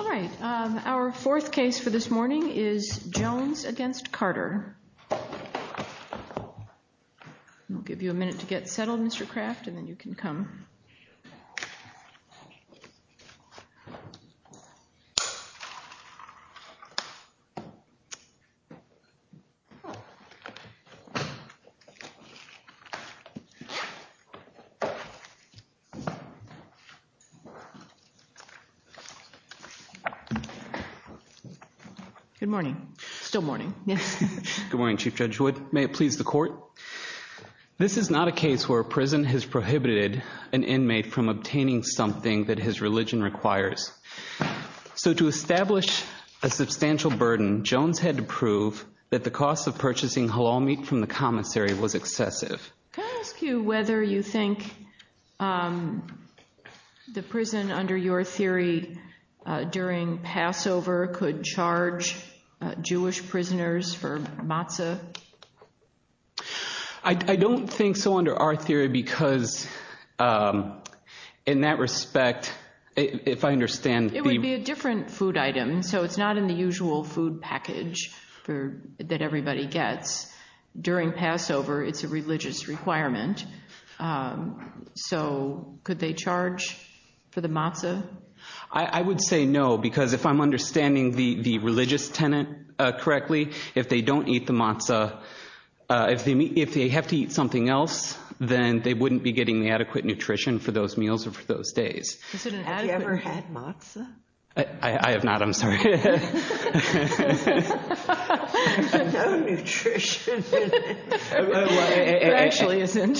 All right, our fourth case for this morning is Jones v. Carter. I'll give you a minute to get settled, Mr. Craft, and then you can come. Good morning. Still morning. Yes. Good morning, Chief Judge Wood. May it please the court. This is not a case where a prison has prohibited an inmate from obtaining something that his So to establish a substantial burden, Jones had to prove that the cost of purchasing halal meat from the commissary was excessive. Can I ask you whether you think the prison, under your theory, during Passover could charge Jewish prisoners for matzah? I don't think so under our theory, because in that respect, if I understand the It would be a different food item, so it's not in the usual food package that everybody gets. During Passover, it's a religious requirement. So could they charge for the matzah? I would say no, because if I'm understanding the religious tenant correctly, if they don't eat the matzah, if they have to eat something else, then they wouldn't be getting the adequate nutrition for those meals or for those days. Have you ever had matzah? I have not, I'm sorry. No nutrition. It actually isn't.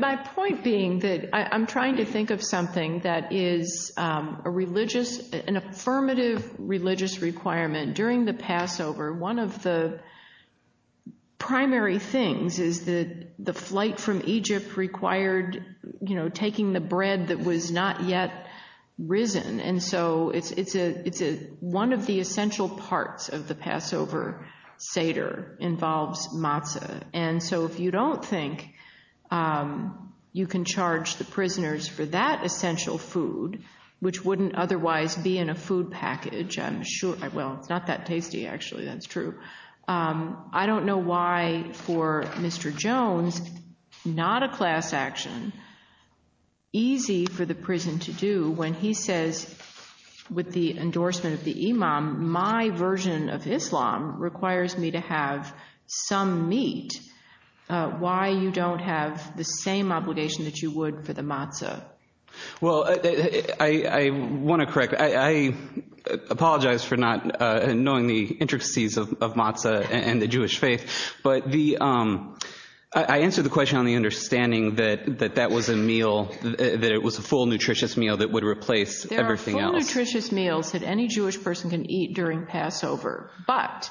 My point being that I'm trying to think of something that is a religious, an affirmative religious requirement during the Passover. One of the primary things is that the flight from Egypt required, you know, taking the bread that was not yet risen. And so it's one of the essential parts of the Passover seder involves matzah. And so if you don't think you can charge the prisoners for that essential food, which wouldn't otherwise be in a food package, I'm sure, well, it's not that tasty, actually, that's true. I don't know why for Mr. Jones, not a class action, easy for the prison to do when he says with the endorsement of the imam, my version of Islam requires me to have some meat. Why you don't have the same obligation that you would for the matzah? Well, I want to correct, I apologize for not knowing the intricacies of matzah and the Jewish faith. But the, I answered the question on the understanding that that was a meal, that it was a full nutritious meal that would replace everything else. There are full nutritious meals that any Jewish person can eat during Passover, but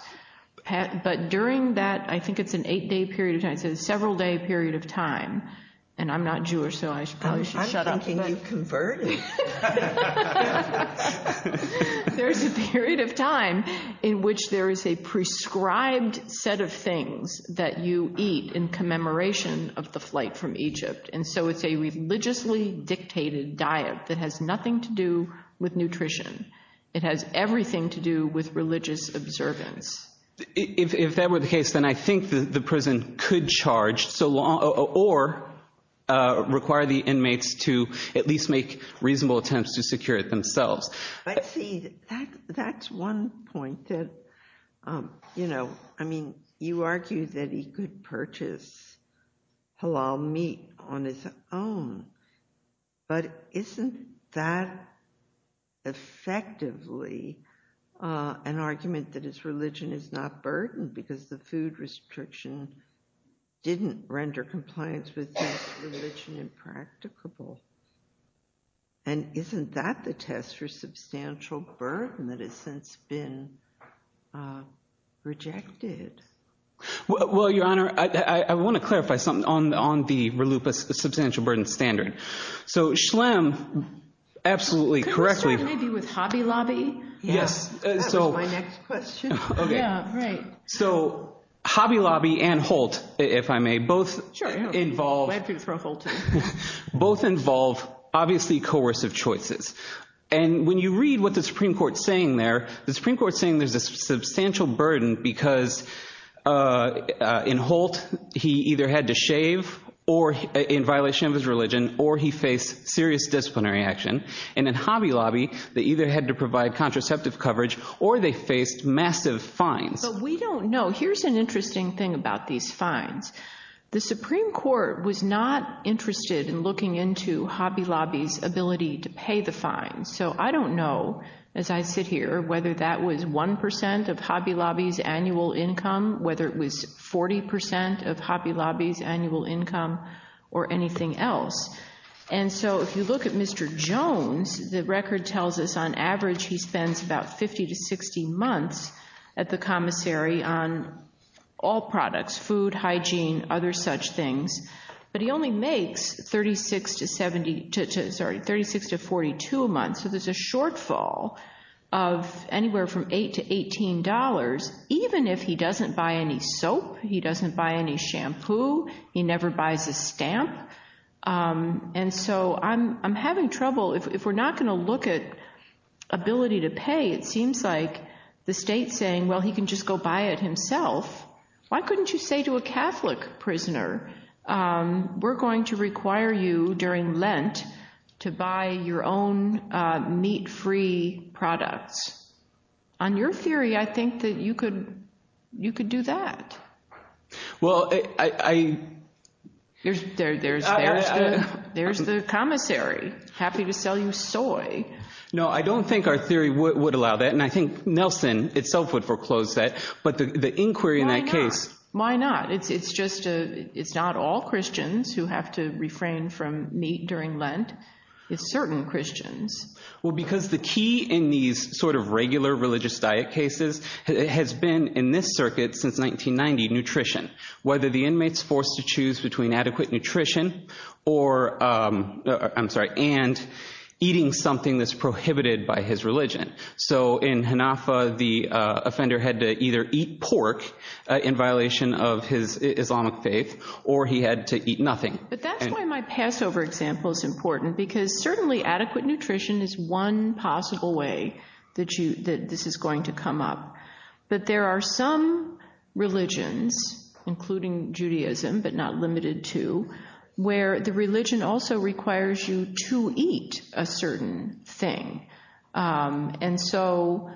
during that, I think it's an eight day period of time, several day period of time, and I'm not Jewish. So I probably should shut up. I'm thinking you converted. There's a period of time in which there is a prescribed set of things that you eat in commemoration of the flight from Egypt. And so it's a religiously dictated diet that has nothing to do with nutrition. It has everything to do with religious observance. If that were the case, then I think the prison could charge, or require the inmates to at least make reasonable attempts to secure it themselves. But see, that's one point that, you know, I mean, you argue that he could purchase halal meat on his own, but isn't that effectively an argument that his religion is not burdened because the food restriction didn't render compliance with his religion impracticable? And isn't that the test for substantial burden that has since been rejected? Well, Your Honor, I want to clarify something on the reluptus substantial burden standard. So Schlemm, absolutely correctly. Could we start maybe with Hobby Lobby? Yes. That was my next question. Okay. Yeah, right. So Hobby Lobby and Holt, if I may, both involve obviously coercive choices. And when you read what the Supreme Court's saying there, the Supreme Court's saying there's a substantial burden because in Holt, he either had to shave in violation of his religion, or he faced serious disciplinary action. And in Hobby Lobby, they either had to provide contraceptive coverage, or they faced massive fines. But we don't know. Here's an interesting thing about these fines. The Supreme Court was not interested in looking into Hobby Lobby's ability to pay the fines. So I don't know, as I sit here, whether that was 1% of Hobby Lobby's annual income, whether it was 40% of Hobby Lobby's annual income, or anything else. And so if you look at Mr. Jones, the record tells us on average he spends about 50 to 60 months at the commissary on all products, food, hygiene, other such things. But he only makes 36 to 42 months, so there's a shortfall of anywhere from $8 to $18, even if he doesn't buy any soap, he doesn't buy any shampoo, he never buys a stamp. And so I'm having trouble, if we're not going to look at ability to pay, it seems like the state's saying, well, he can just go buy it himself. Why couldn't you say to a Catholic prisoner, we're going to require you during Lent to buy your own meat-free products? On your theory, I think that you could do that. Well, I... There's the commissary, happy to sell you soy. No, I don't think our theory would allow that, and I think Nelson itself would foreclose that, but the inquiry in that case... Why not? It's just, it's not all Christians who have to refrain from meat during Lent, it's certain Christians. Well, because the key in these sort of regular religious diet cases has been in this circuit since 1990, nutrition. Whether the inmate's forced to choose between adequate nutrition or, I'm sorry, and eating something that's prohibited by his religion. So in Hanafah, the offender had to either eat pork in violation of his Islamic faith, or he had to eat nothing. But that's why my Passover example's important, because certainly adequate nutrition is one possible way that this is going to come up. But there are some religions, including Judaism, but not limited to, where the religion also And so,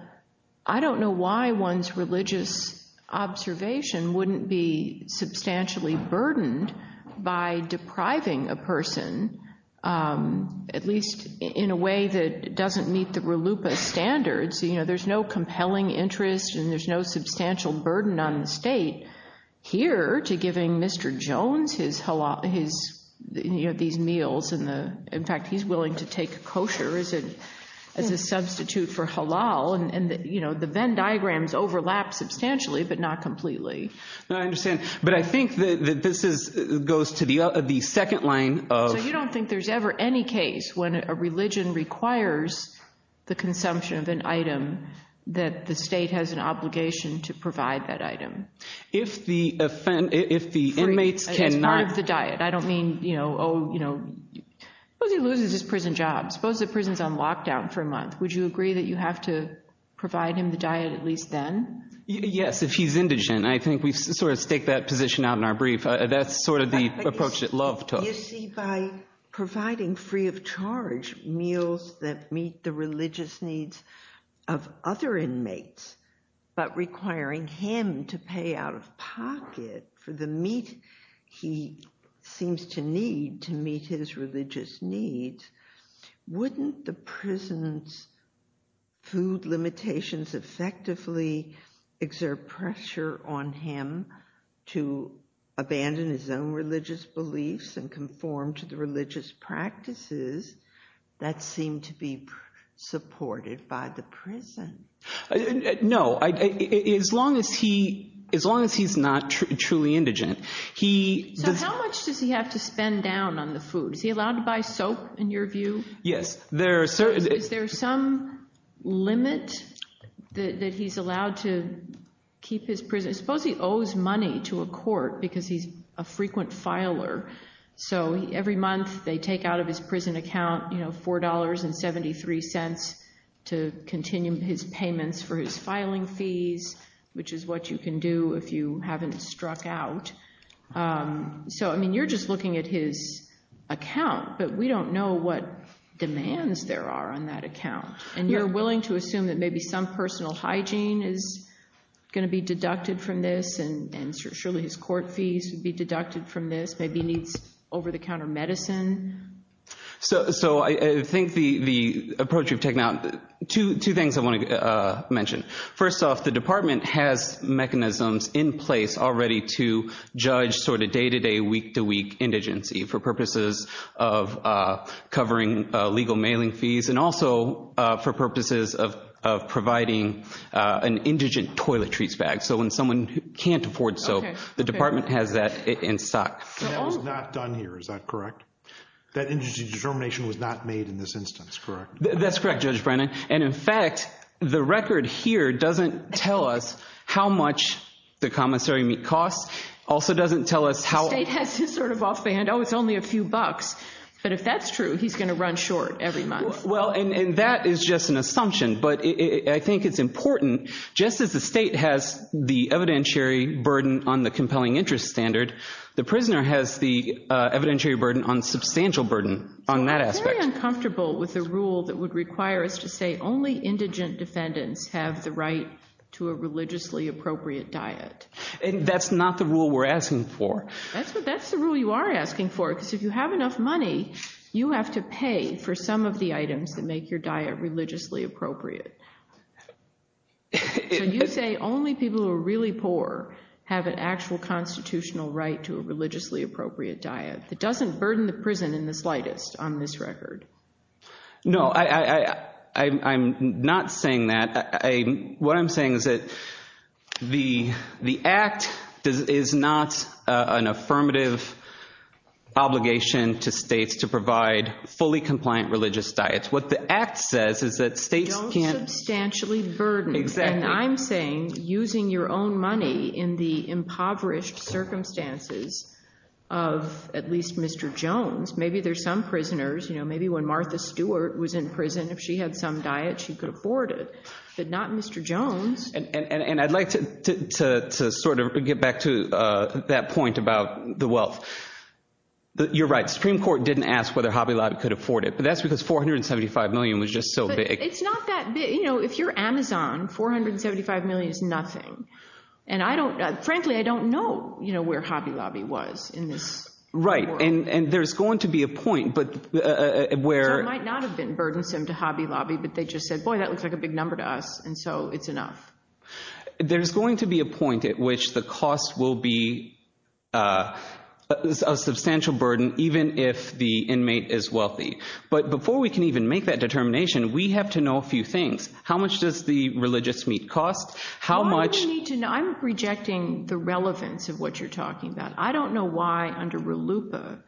I don't know why one's religious observation wouldn't be substantially burdened by depriving a person, at least in a way that doesn't meet the relupa standards. There's no compelling interest, and there's no substantial burden on the state here to giving Mr. Jones these meals, in fact, he's willing to take kosher as a substitute for halal, and the Venn diagrams overlap substantially, but not completely. I understand, but I think that this goes to the second line of So you don't think there's ever any case when a religion requires the consumption of an item that the state has an obligation to provide that item? If the inmates cannot It's part of the diet, I don't mean, oh, suppose he loses his prison job, suppose the prison's on lockdown for a month, would you agree that you have to provide him the diet at least then? Yes, if he's indigent, I think we sort of stake that position out in our brief. That's sort of the approach that Love took. You see, by providing free of charge meals that meet the religious needs of other inmates, but requiring him to pay out of pocket for the meat he seems to need to meet his religious needs, wouldn't the prison's food limitations effectively exert pressure on him to abandon his own religious beliefs and conform to the religious practices that seem to be supported by the prison? No, as long as he's not truly indigent, he So how much does he have to spend down on the food? Is he allowed to buy soap, in your view? Yes, there are certain Is there some limit that he's allowed to keep his prison? Suppose he owes money to a court because he's a frequent filer, so every month they take out of his prison account, you know, $4.73 to continue his payments for his filing fees, which is what you can do if you haven't struck out. So, I mean, you're just looking at his account, but we don't know what demands there are on that account. And you're willing to assume that maybe some personal hygiene is going to be deducted from this, and surely his court fees would be deducted from this. Maybe he needs over-the-counter medicine. So I think the approach you've taken out, two things I want to mention. First off, the department has mechanisms in place already to judge sort of day-to-day, week-to-week indigency for purposes of covering legal mailing fees and also for purposes of providing an indigent toilet treats bag. So when someone can't afford soap, the department has that in stock. And that was not done here, is that correct? That indigent determination was not made in this instance, correct? That's correct, Judge Brennan. And in fact, the record here doesn't tell us how much the commissary meet costs, also doesn't tell us how... The state has his sort of off-band, oh, it's only a few bucks. But if that's true, he's going to run short every month. Well, and that is just an assumption. But I think it's important, just as the state has the evidentiary burden on the compelling interest standard, the prisoner has the evidentiary burden on substantial burden on that aspect. I'm very uncomfortable with the rule that would require us to say only indigent defendants have the right to a religiously appropriate diet. That's not the rule we're asking for. That's the rule you are asking for, because if you have enough money, you have to pay for some of the items that make your diet religiously appropriate. So you say only people who are really poor have an actual constitutional right to a religiously appropriate diet. It doesn't burden the prison in the slightest on this record. No, I'm not saying that. What I'm saying is that the Act is not an affirmative obligation to states to provide fully compliant religious diets. What the Act says is that states can't... Don't substantially burden. Exactly. And I'm saying using your own money in the impoverished circumstances of at least Mr. Jones, maybe there's some prisoners, maybe when Martha Stewart was in prison, if she had some diet, she could afford it, but not Mr. Jones. And I'd like to sort of get back to that point about the wealth. You're right, Supreme Court didn't ask whether Hobby Lobby could afford it, but that's because $475 million was just so big. It's not that big. If you're Amazon, $475 million is nothing. Frankly, I don't know where Hobby Lobby was in this report. Right, and there's going to be a point where... So it might not have been burdensome to Hobby Lobby, but they just said, boy, that looks like a big number to us, and so it's enough. There's going to be a point at which the cost will be a substantial burden even if the inmate is wealthy. But before we can even make that determination, we have to know a few things. How much does the religious meat cost? How much... I'm rejecting the relevance of what you're talking about. I don't know why, under RLUIPA,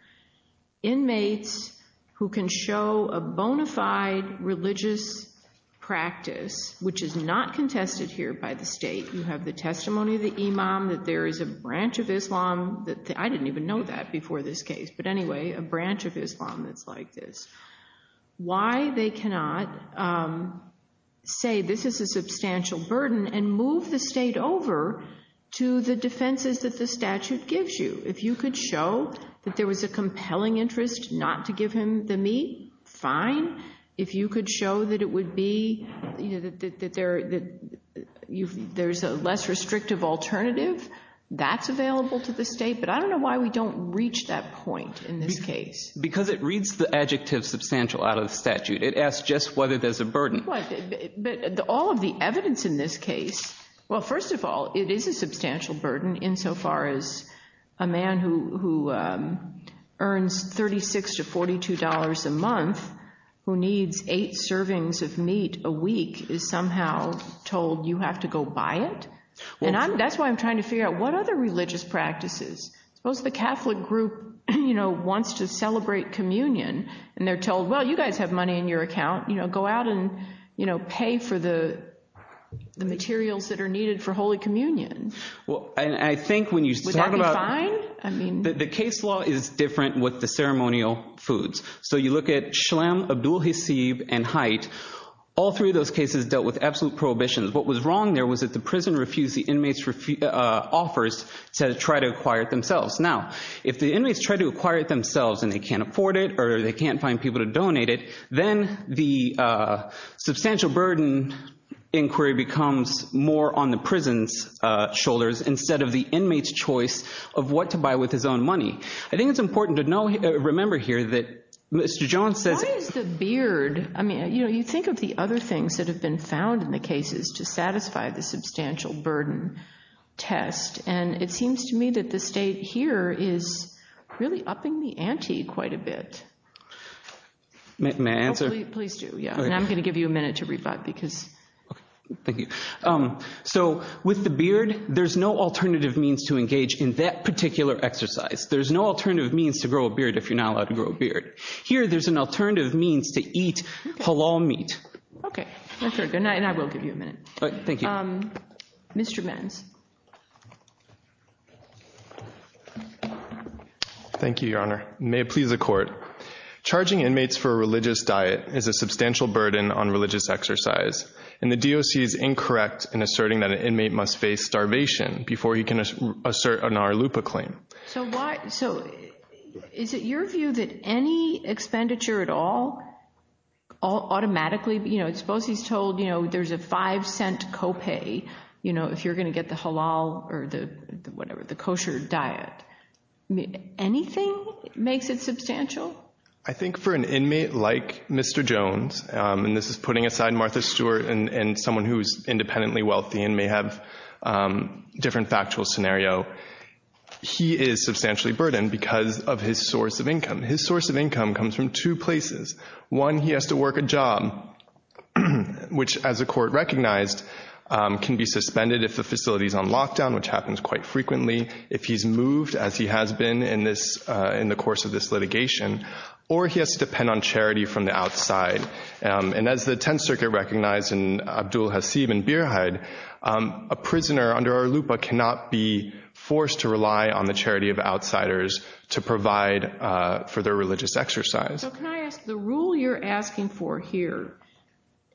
inmates who can show a bona fide religious practice, which is not contested here by the state, you have the testimony of the imam that there is a branch of Islam, I didn't even know that before this case, but anyway, a branch of Islam that's like this. Why they cannot say this is a substantial burden and move the state over to the defenses that the statute gives you. If you could show that there was a compelling interest not to give him the meat, fine. If you could show that it would be... that there's a less restrictive alternative, that's available to the state, but I don't know why we don't reach that point in this case. Because it reads the adjective substantial out of the statute. It asks just whether there's a burden. But all of the evidence in this case... Well, first of all, it is a substantial burden insofar as a man who earns $36 to $42 a month, who needs 8 servings of meat a week, is somehow told you have to go buy it? That's why I'm trying to figure out what other religious practices... Suppose the Catholic group wants to celebrate communion and they're told, well, you guys have money in your account, go out and pay for the materials that are needed for Holy Communion. And I think when you talk about... Would that be fine? The case law is different with the ceremonial foods. So you look at Shlem, Abdu'l-Hasib, and Haidt. All three of those cases dealt with absolute prohibitions. What was wrong there was that the prison refused the inmates' offers to try to acquire it themselves. Now, if the inmates try to acquire it themselves and they can't afford it or they can't find people to donate it, then the substantial burden inquiry becomes more on the prison's shoulders instead of the inmate's choice of what to buy with his own money. I think it's important to remember here that Mr. Jones says... Why is the beard... You think of the other things that have been found in the cases to satisfy the substantial burden test, and it seems to me that the state here is really upping the ante quite a bit. May I answer? Please do, yeah. And I'm going to give you a minute to rebut because... Thank you. So, with the beard, there's no alternative means to engage in that particular exercise. There's no alternative means to grow a beard if you're not allowed to grow a beard. Here, there's an alternative means to eat halal meat. Okay. Thank you. Mr. Benz. Thank you, Your Honor. May it please the Court. Charging inmates for a religious diet is a substantial burden on religious exercise, and the DOC is incorrect in asserting that an inmate must face starvation before he can assert an RLUPA claim. So, is it your view that any expenditure at all, automatically... Suppose he's told there's a five-cent co-pay if you're going to get the halal or the kosher diet. Anything makes it substantial? I think for an inmate like Mr. Jones, and this is putting aside Martha Stewart and someone who's independently wealthy and may have different factual scenario, he is substantially burdened because of his source of income. His source of income comes from two places. One, he has to work a job, which, as the Court recognized, can be suspended if the facility's on lockdown, which happens quite frequently. Secondly, if he's moved, as he has been in the course of this litigation, or he has to depend on charity from the outside. And as the Tenth Circuit recognized in Abdul Hasib and Birhaid, a prisoner under RLUPA cannot be forced to rely on the charity of outsiders to provide for their religious exercise. So, can I ask, the rule you're asking for here,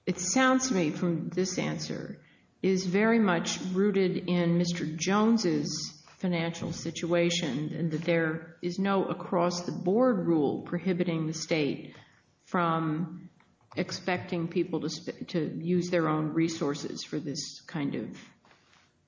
it sounds to me from this answer, is very much rooted in Mr. Jones's financial situation and that there is no across-the-board rule prohibiting the state from expecting people to use their own resources for this kind of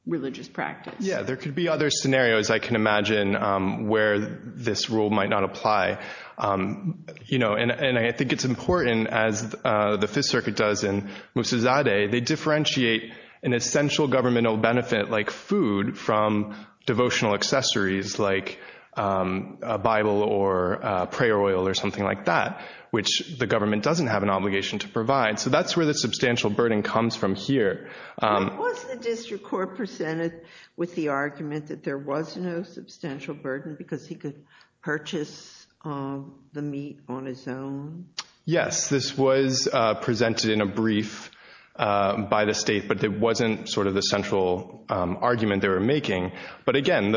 religious practice. Yeah, there could be other scenarios, I can imagine, where this rule might not apply. You know, and I think it's important, as the Fifth Circuit does in Musazadeh, they differentiate an essential governmental benefit, like food, from devotional accessories, like a Bible or prayer oil or something like that, which the government doesn't have an obligation to provide. So that's where the substantial burden comes from here. Was the district court presented with the argument that there was no substantial burden because he could purchase the meat on his own? Yes, this was presented in a brief by the state, but it wasn't sort of the central argument they were making. But again,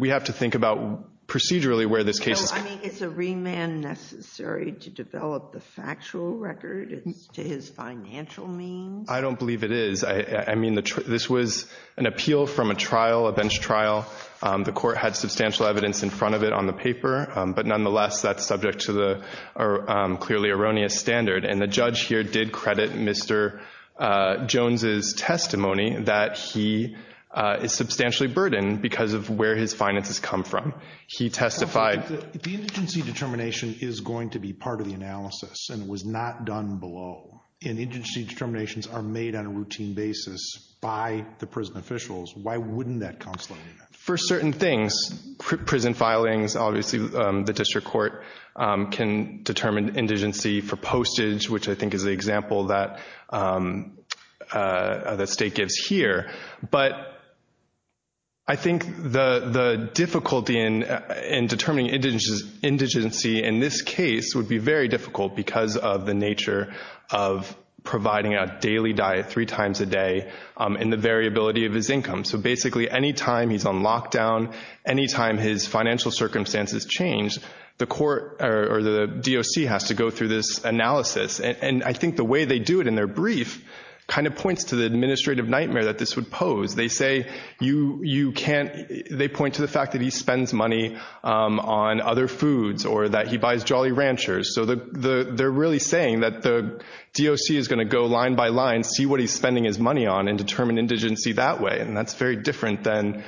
we have to think about procedurally where this case... I mean, is a remand necessary to develop the factual record as to his financial means? I don't believe it is. I mean, this was an appeal from a trial, a bench trial. The court had substantial evidence in front of it on the paper, but nonetheless, that's subject to the clearly erroneous standard. And the judge here did credit Mr. Jones's testimony that he is substantially burdened because of where his finances come from. He testified... The indigency determination is going to be part of the analysis and was not done below. Indigency determinations are made on a routine basis by the prison officials. Why wouldn't that counselor do that? For certain things, prison filings, obviously the district court can determine indigency for postage, which I think is the example that the state gives here. But I think the difficulty in determining indigency in this case would be very difficult because of the nature of providing a daily diet three times a day and the variability of his income. So basically, any time he's on lockdown, any time his financial circumstances change, the court or the DOC has to go through this analysis. And I think the way they do it in their brief kind of points to the administrative nightmare that this would pose. They say you can't... They point to the fact that he spends money on other foods or that he buys Jolly Ranchers. So they're really saying that the DOC is going to go line by line, see what he's spending his money on and determine indigency that way. And that's very different than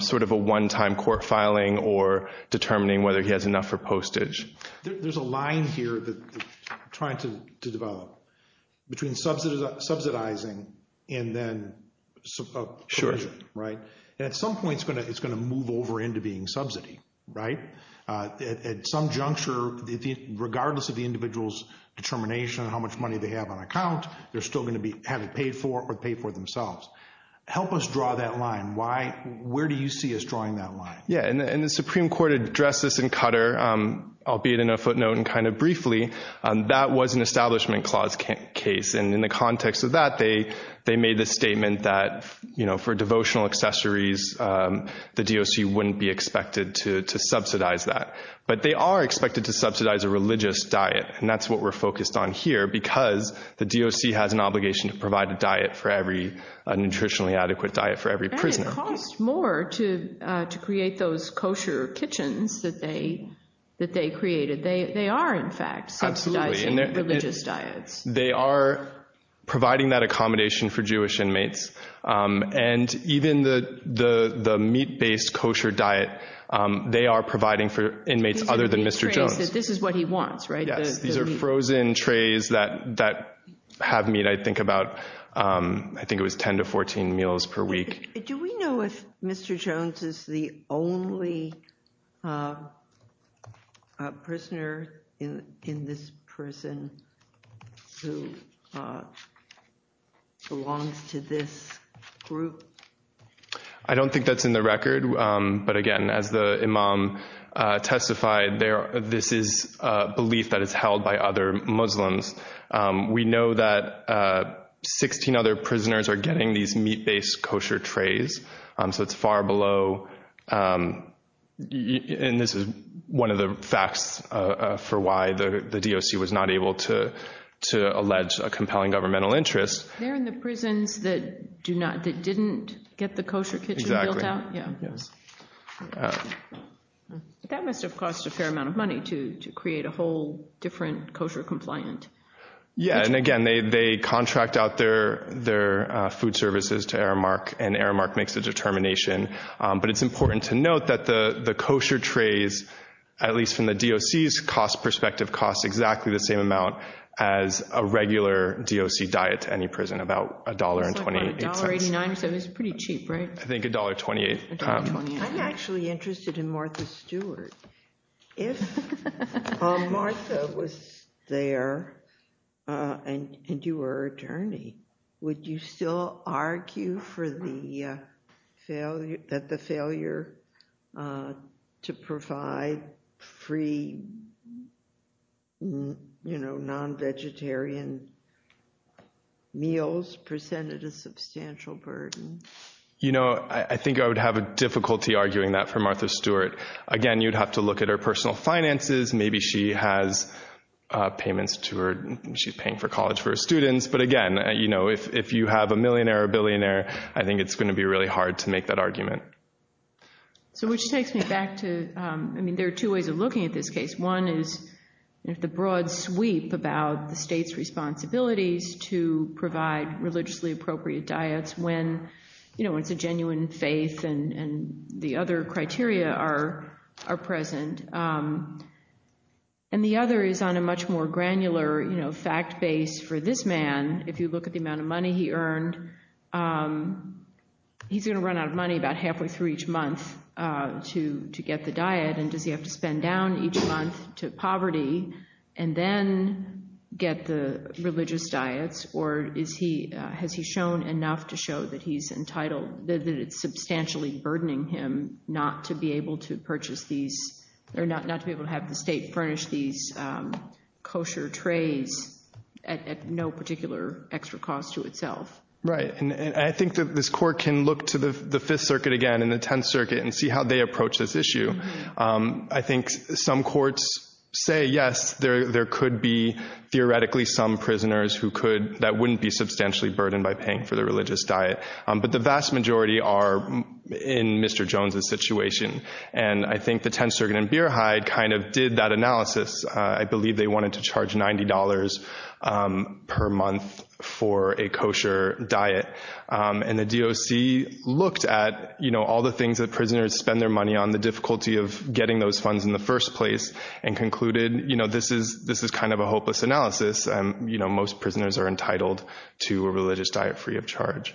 sort of a one-time court filing or determining whether he has enough for postage. There's a line here that we're trying to develop between subsidizing and then provision, right? And at some point, it's going to move over into being subsidy, right? At some juncture, regardless of the individual's determination on how much money they have on account, they're still going to have it paid for or pay for themselves. Help us draw that line. Why... Where do you see us drawing that line? Yeah, and the Supreme Court addressed this in Qatar, albeit in a footnote and kind of briefly. That was an Establishment Clause case. And in the context of that, they made the statement that, you know, for devotional accessories, the DOC wouldn't be expected to subsidize that. But they are expected to subsidize a religious diet. And that's what we're focused on here because the DOC has an obligation to provide a diet for every... a nutritionally adequate diet for every prisoner. And it costs more to create those kosher kitchens that they created. They are, in fact, subsidizing religious diets. Absolutely. They are providing that accommodation for Jewish inmates. And even the meat-based kosher diet, they are providing for inmates other than Mr. Jones. These are the trays that... This is what he wants, right? Yes, these are frozen trays that have meat, and I think about... I think it was 10 to 14 meals per week. Do we know if Mr. Jones is the only prisoner in this prison who belongs to this group? I don't think that's in the record. But again, as the imam testified, this is a belief that is held by other Muslims. We know that 16 other prisoners are getting these meat-based kosher trays. So it's far below... And this is one of the facts for why the DOC was not able to allege a compelling governmental interest. They're in the prisons that do not... that didn't get the kosher kitchen built out? Exactly. Yeah. Yes. That must have cost a fair amount of money to create a whole different kosher compliant... Yeah, and again, they contract out their food services to Aramark, and Aramark makes the determination. But it's important to note that the kosher trays, at least from the DOC's cost perspective, cost exactly the same amount as a regular DOC diet to any prison, about $1.28. About $1.89, so it's pretty cheap, right? I think $1.28. $1.28. I'm actually interested in Martha Stewart. If Martha was there and you were her attorney, would you still argue for the failure... that the failure to provide free, you know, non-vegetarian meals presented a substantial burden? You know, I think I would have a difficulty arguing that for Martha Stewart. Again, you'd have to look at her personal finances. Maybe she has payments to her... she's paying for college for her students. But again, you know, if you have a millionaire or billionaire, I think it's going to be really hard to make that argument. So which takes me back to... I mean, there are two ways of looking at this case. One is the broad sweep about the state's responsibilities to provide religiously appropriate diets when, you know, it's a genuine faith and the other criteria are present. And the other is on a much more granular, you know, fact base for this man. If you look at the amount of money he earned, he's going to run out of money about halfway through each month to get the diet. And does he have to spend down each month to poverty and then get the religious diets? Or has he shown enough to show that he's entitled... that it's substantially burdening him not to be able to purchase these... or not to be able to have the state furnish these kosher trays at no particular extra cost to itself? Right, and I think that this court can look to the Fifth Circuit again and the Tenth Circuit and see how they approach this issue. I think some courts say yes, there could be theoretically some prisoners who could... that wouldn't be substantially burdened by paying for the religious diet. But the vast majority are in Mr. Jones' situation. And I think the Tenth Circuit and Beerhide kind of did that analysis. I believe they wanted to charge $90 per month for a kosher diet. And the DOC looked at, you know, all the things that prisoners spend their money on, the difficulty of getting those funds in the first place, and concluded, you know, this is kind of a hopeless analysis. You know, most prisoners are entitled to a religious diet free of charge.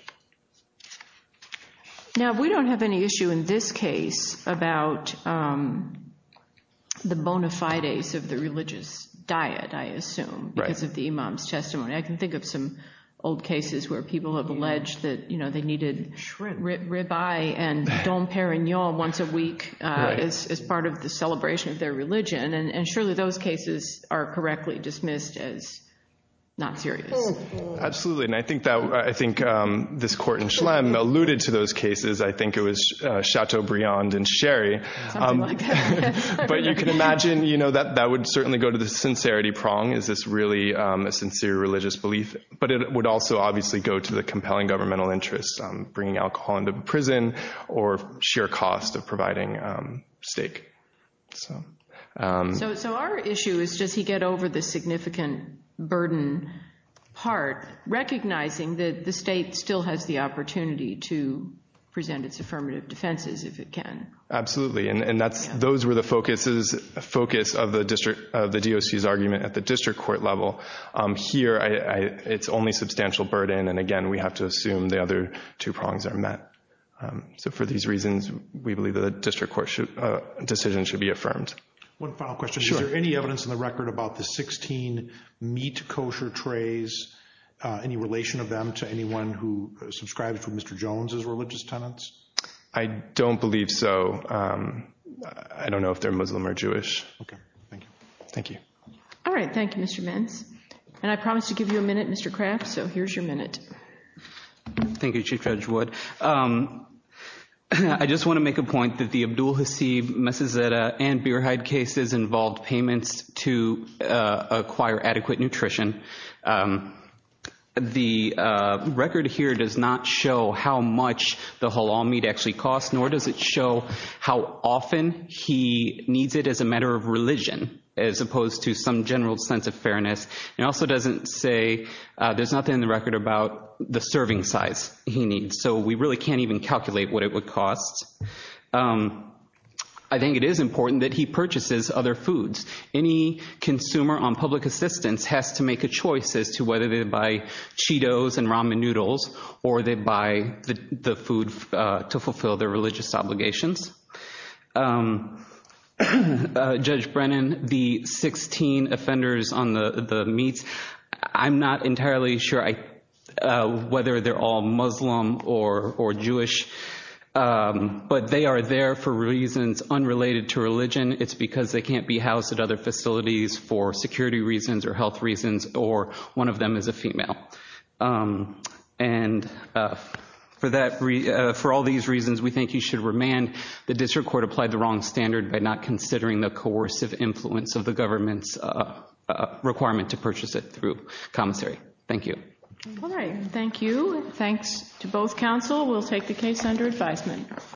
Now, we don't have any issue in this case about the bona fides of the religious diet, I assume, because of the imam's testimony. I can think of some old cases where people have alleged that, you know, they needed shrimp rib eye and Dom Perignon once a week as part of the celebration of their religion. And surely those cases are correctly dismissed as not serious. Absolutely. And I think this court in Schlemm alluded to those cases. I think it was Chateaubriand and Sherry. But you can imagine, you know, that would certainly go to the sincerity prong. Is this really a sincere religious belief? But it would also obviously go to the compelling governmental interests, bringing alcohol into prison or sheer cost of providing steak. So our issue is, does he get over the significant burden part, recognizing that the state still has the opportunity to present its affirmative defenses if it can? Absolutely. And those were the focus of the DOC's argument at the district court level. Here, it's only substantial burden. And again, we have to assume the other two prongs are met. So for these reasons, we believe that a district court decision should be affirmed. One final question. Is there any evidence in the record about the 16 meat kosher trays? Any relation of them to anyone who subscribes to Mr. Jones' religious tenets? I don't believe so. I don't know if they're Muslim or Jewish. Okay. Thank you. Thank you. All right. Thank you, Mr. Mintz. And I promised to give you a minute, Mr. Kraft. So here's your minute. Thank you, Chief Judge Wood. I just want to make a point that the Abdul Hasib, Messizetta, and Bierheide cases involved payments to acquire adequate nutrition. The record here does not show how much the halal meat actually costs, nor does it show how often he needs it as a matter of religion, as opposed to some general sense of fairness. It also doesn't say there's nothing in the record about the serving size he needs. So we really can't even calculate what it would cost. I think it is important that he purchases other foods. Any consumer on public assistance has to make a choice as to whether they buy Cheetos and ramen noodles or they buy the food to fulfill their religious obligations. Judge Brennan, the 16 offenders on the meats, I'm not entirely sure whether they're all Muslim or Jewish, but they are there for reasons unrelated to religion. It's because they can't be housed at other facilities for security reasons or health reasons or one of them is a female. For all these reasons, we think he should remand. The district court applied the wrong standard by not considering the coercive influence of the government's requirement to purchase it through commissary. Thank you. All right. Thank you. Thanks to both counsel. We'll take the case under advisement.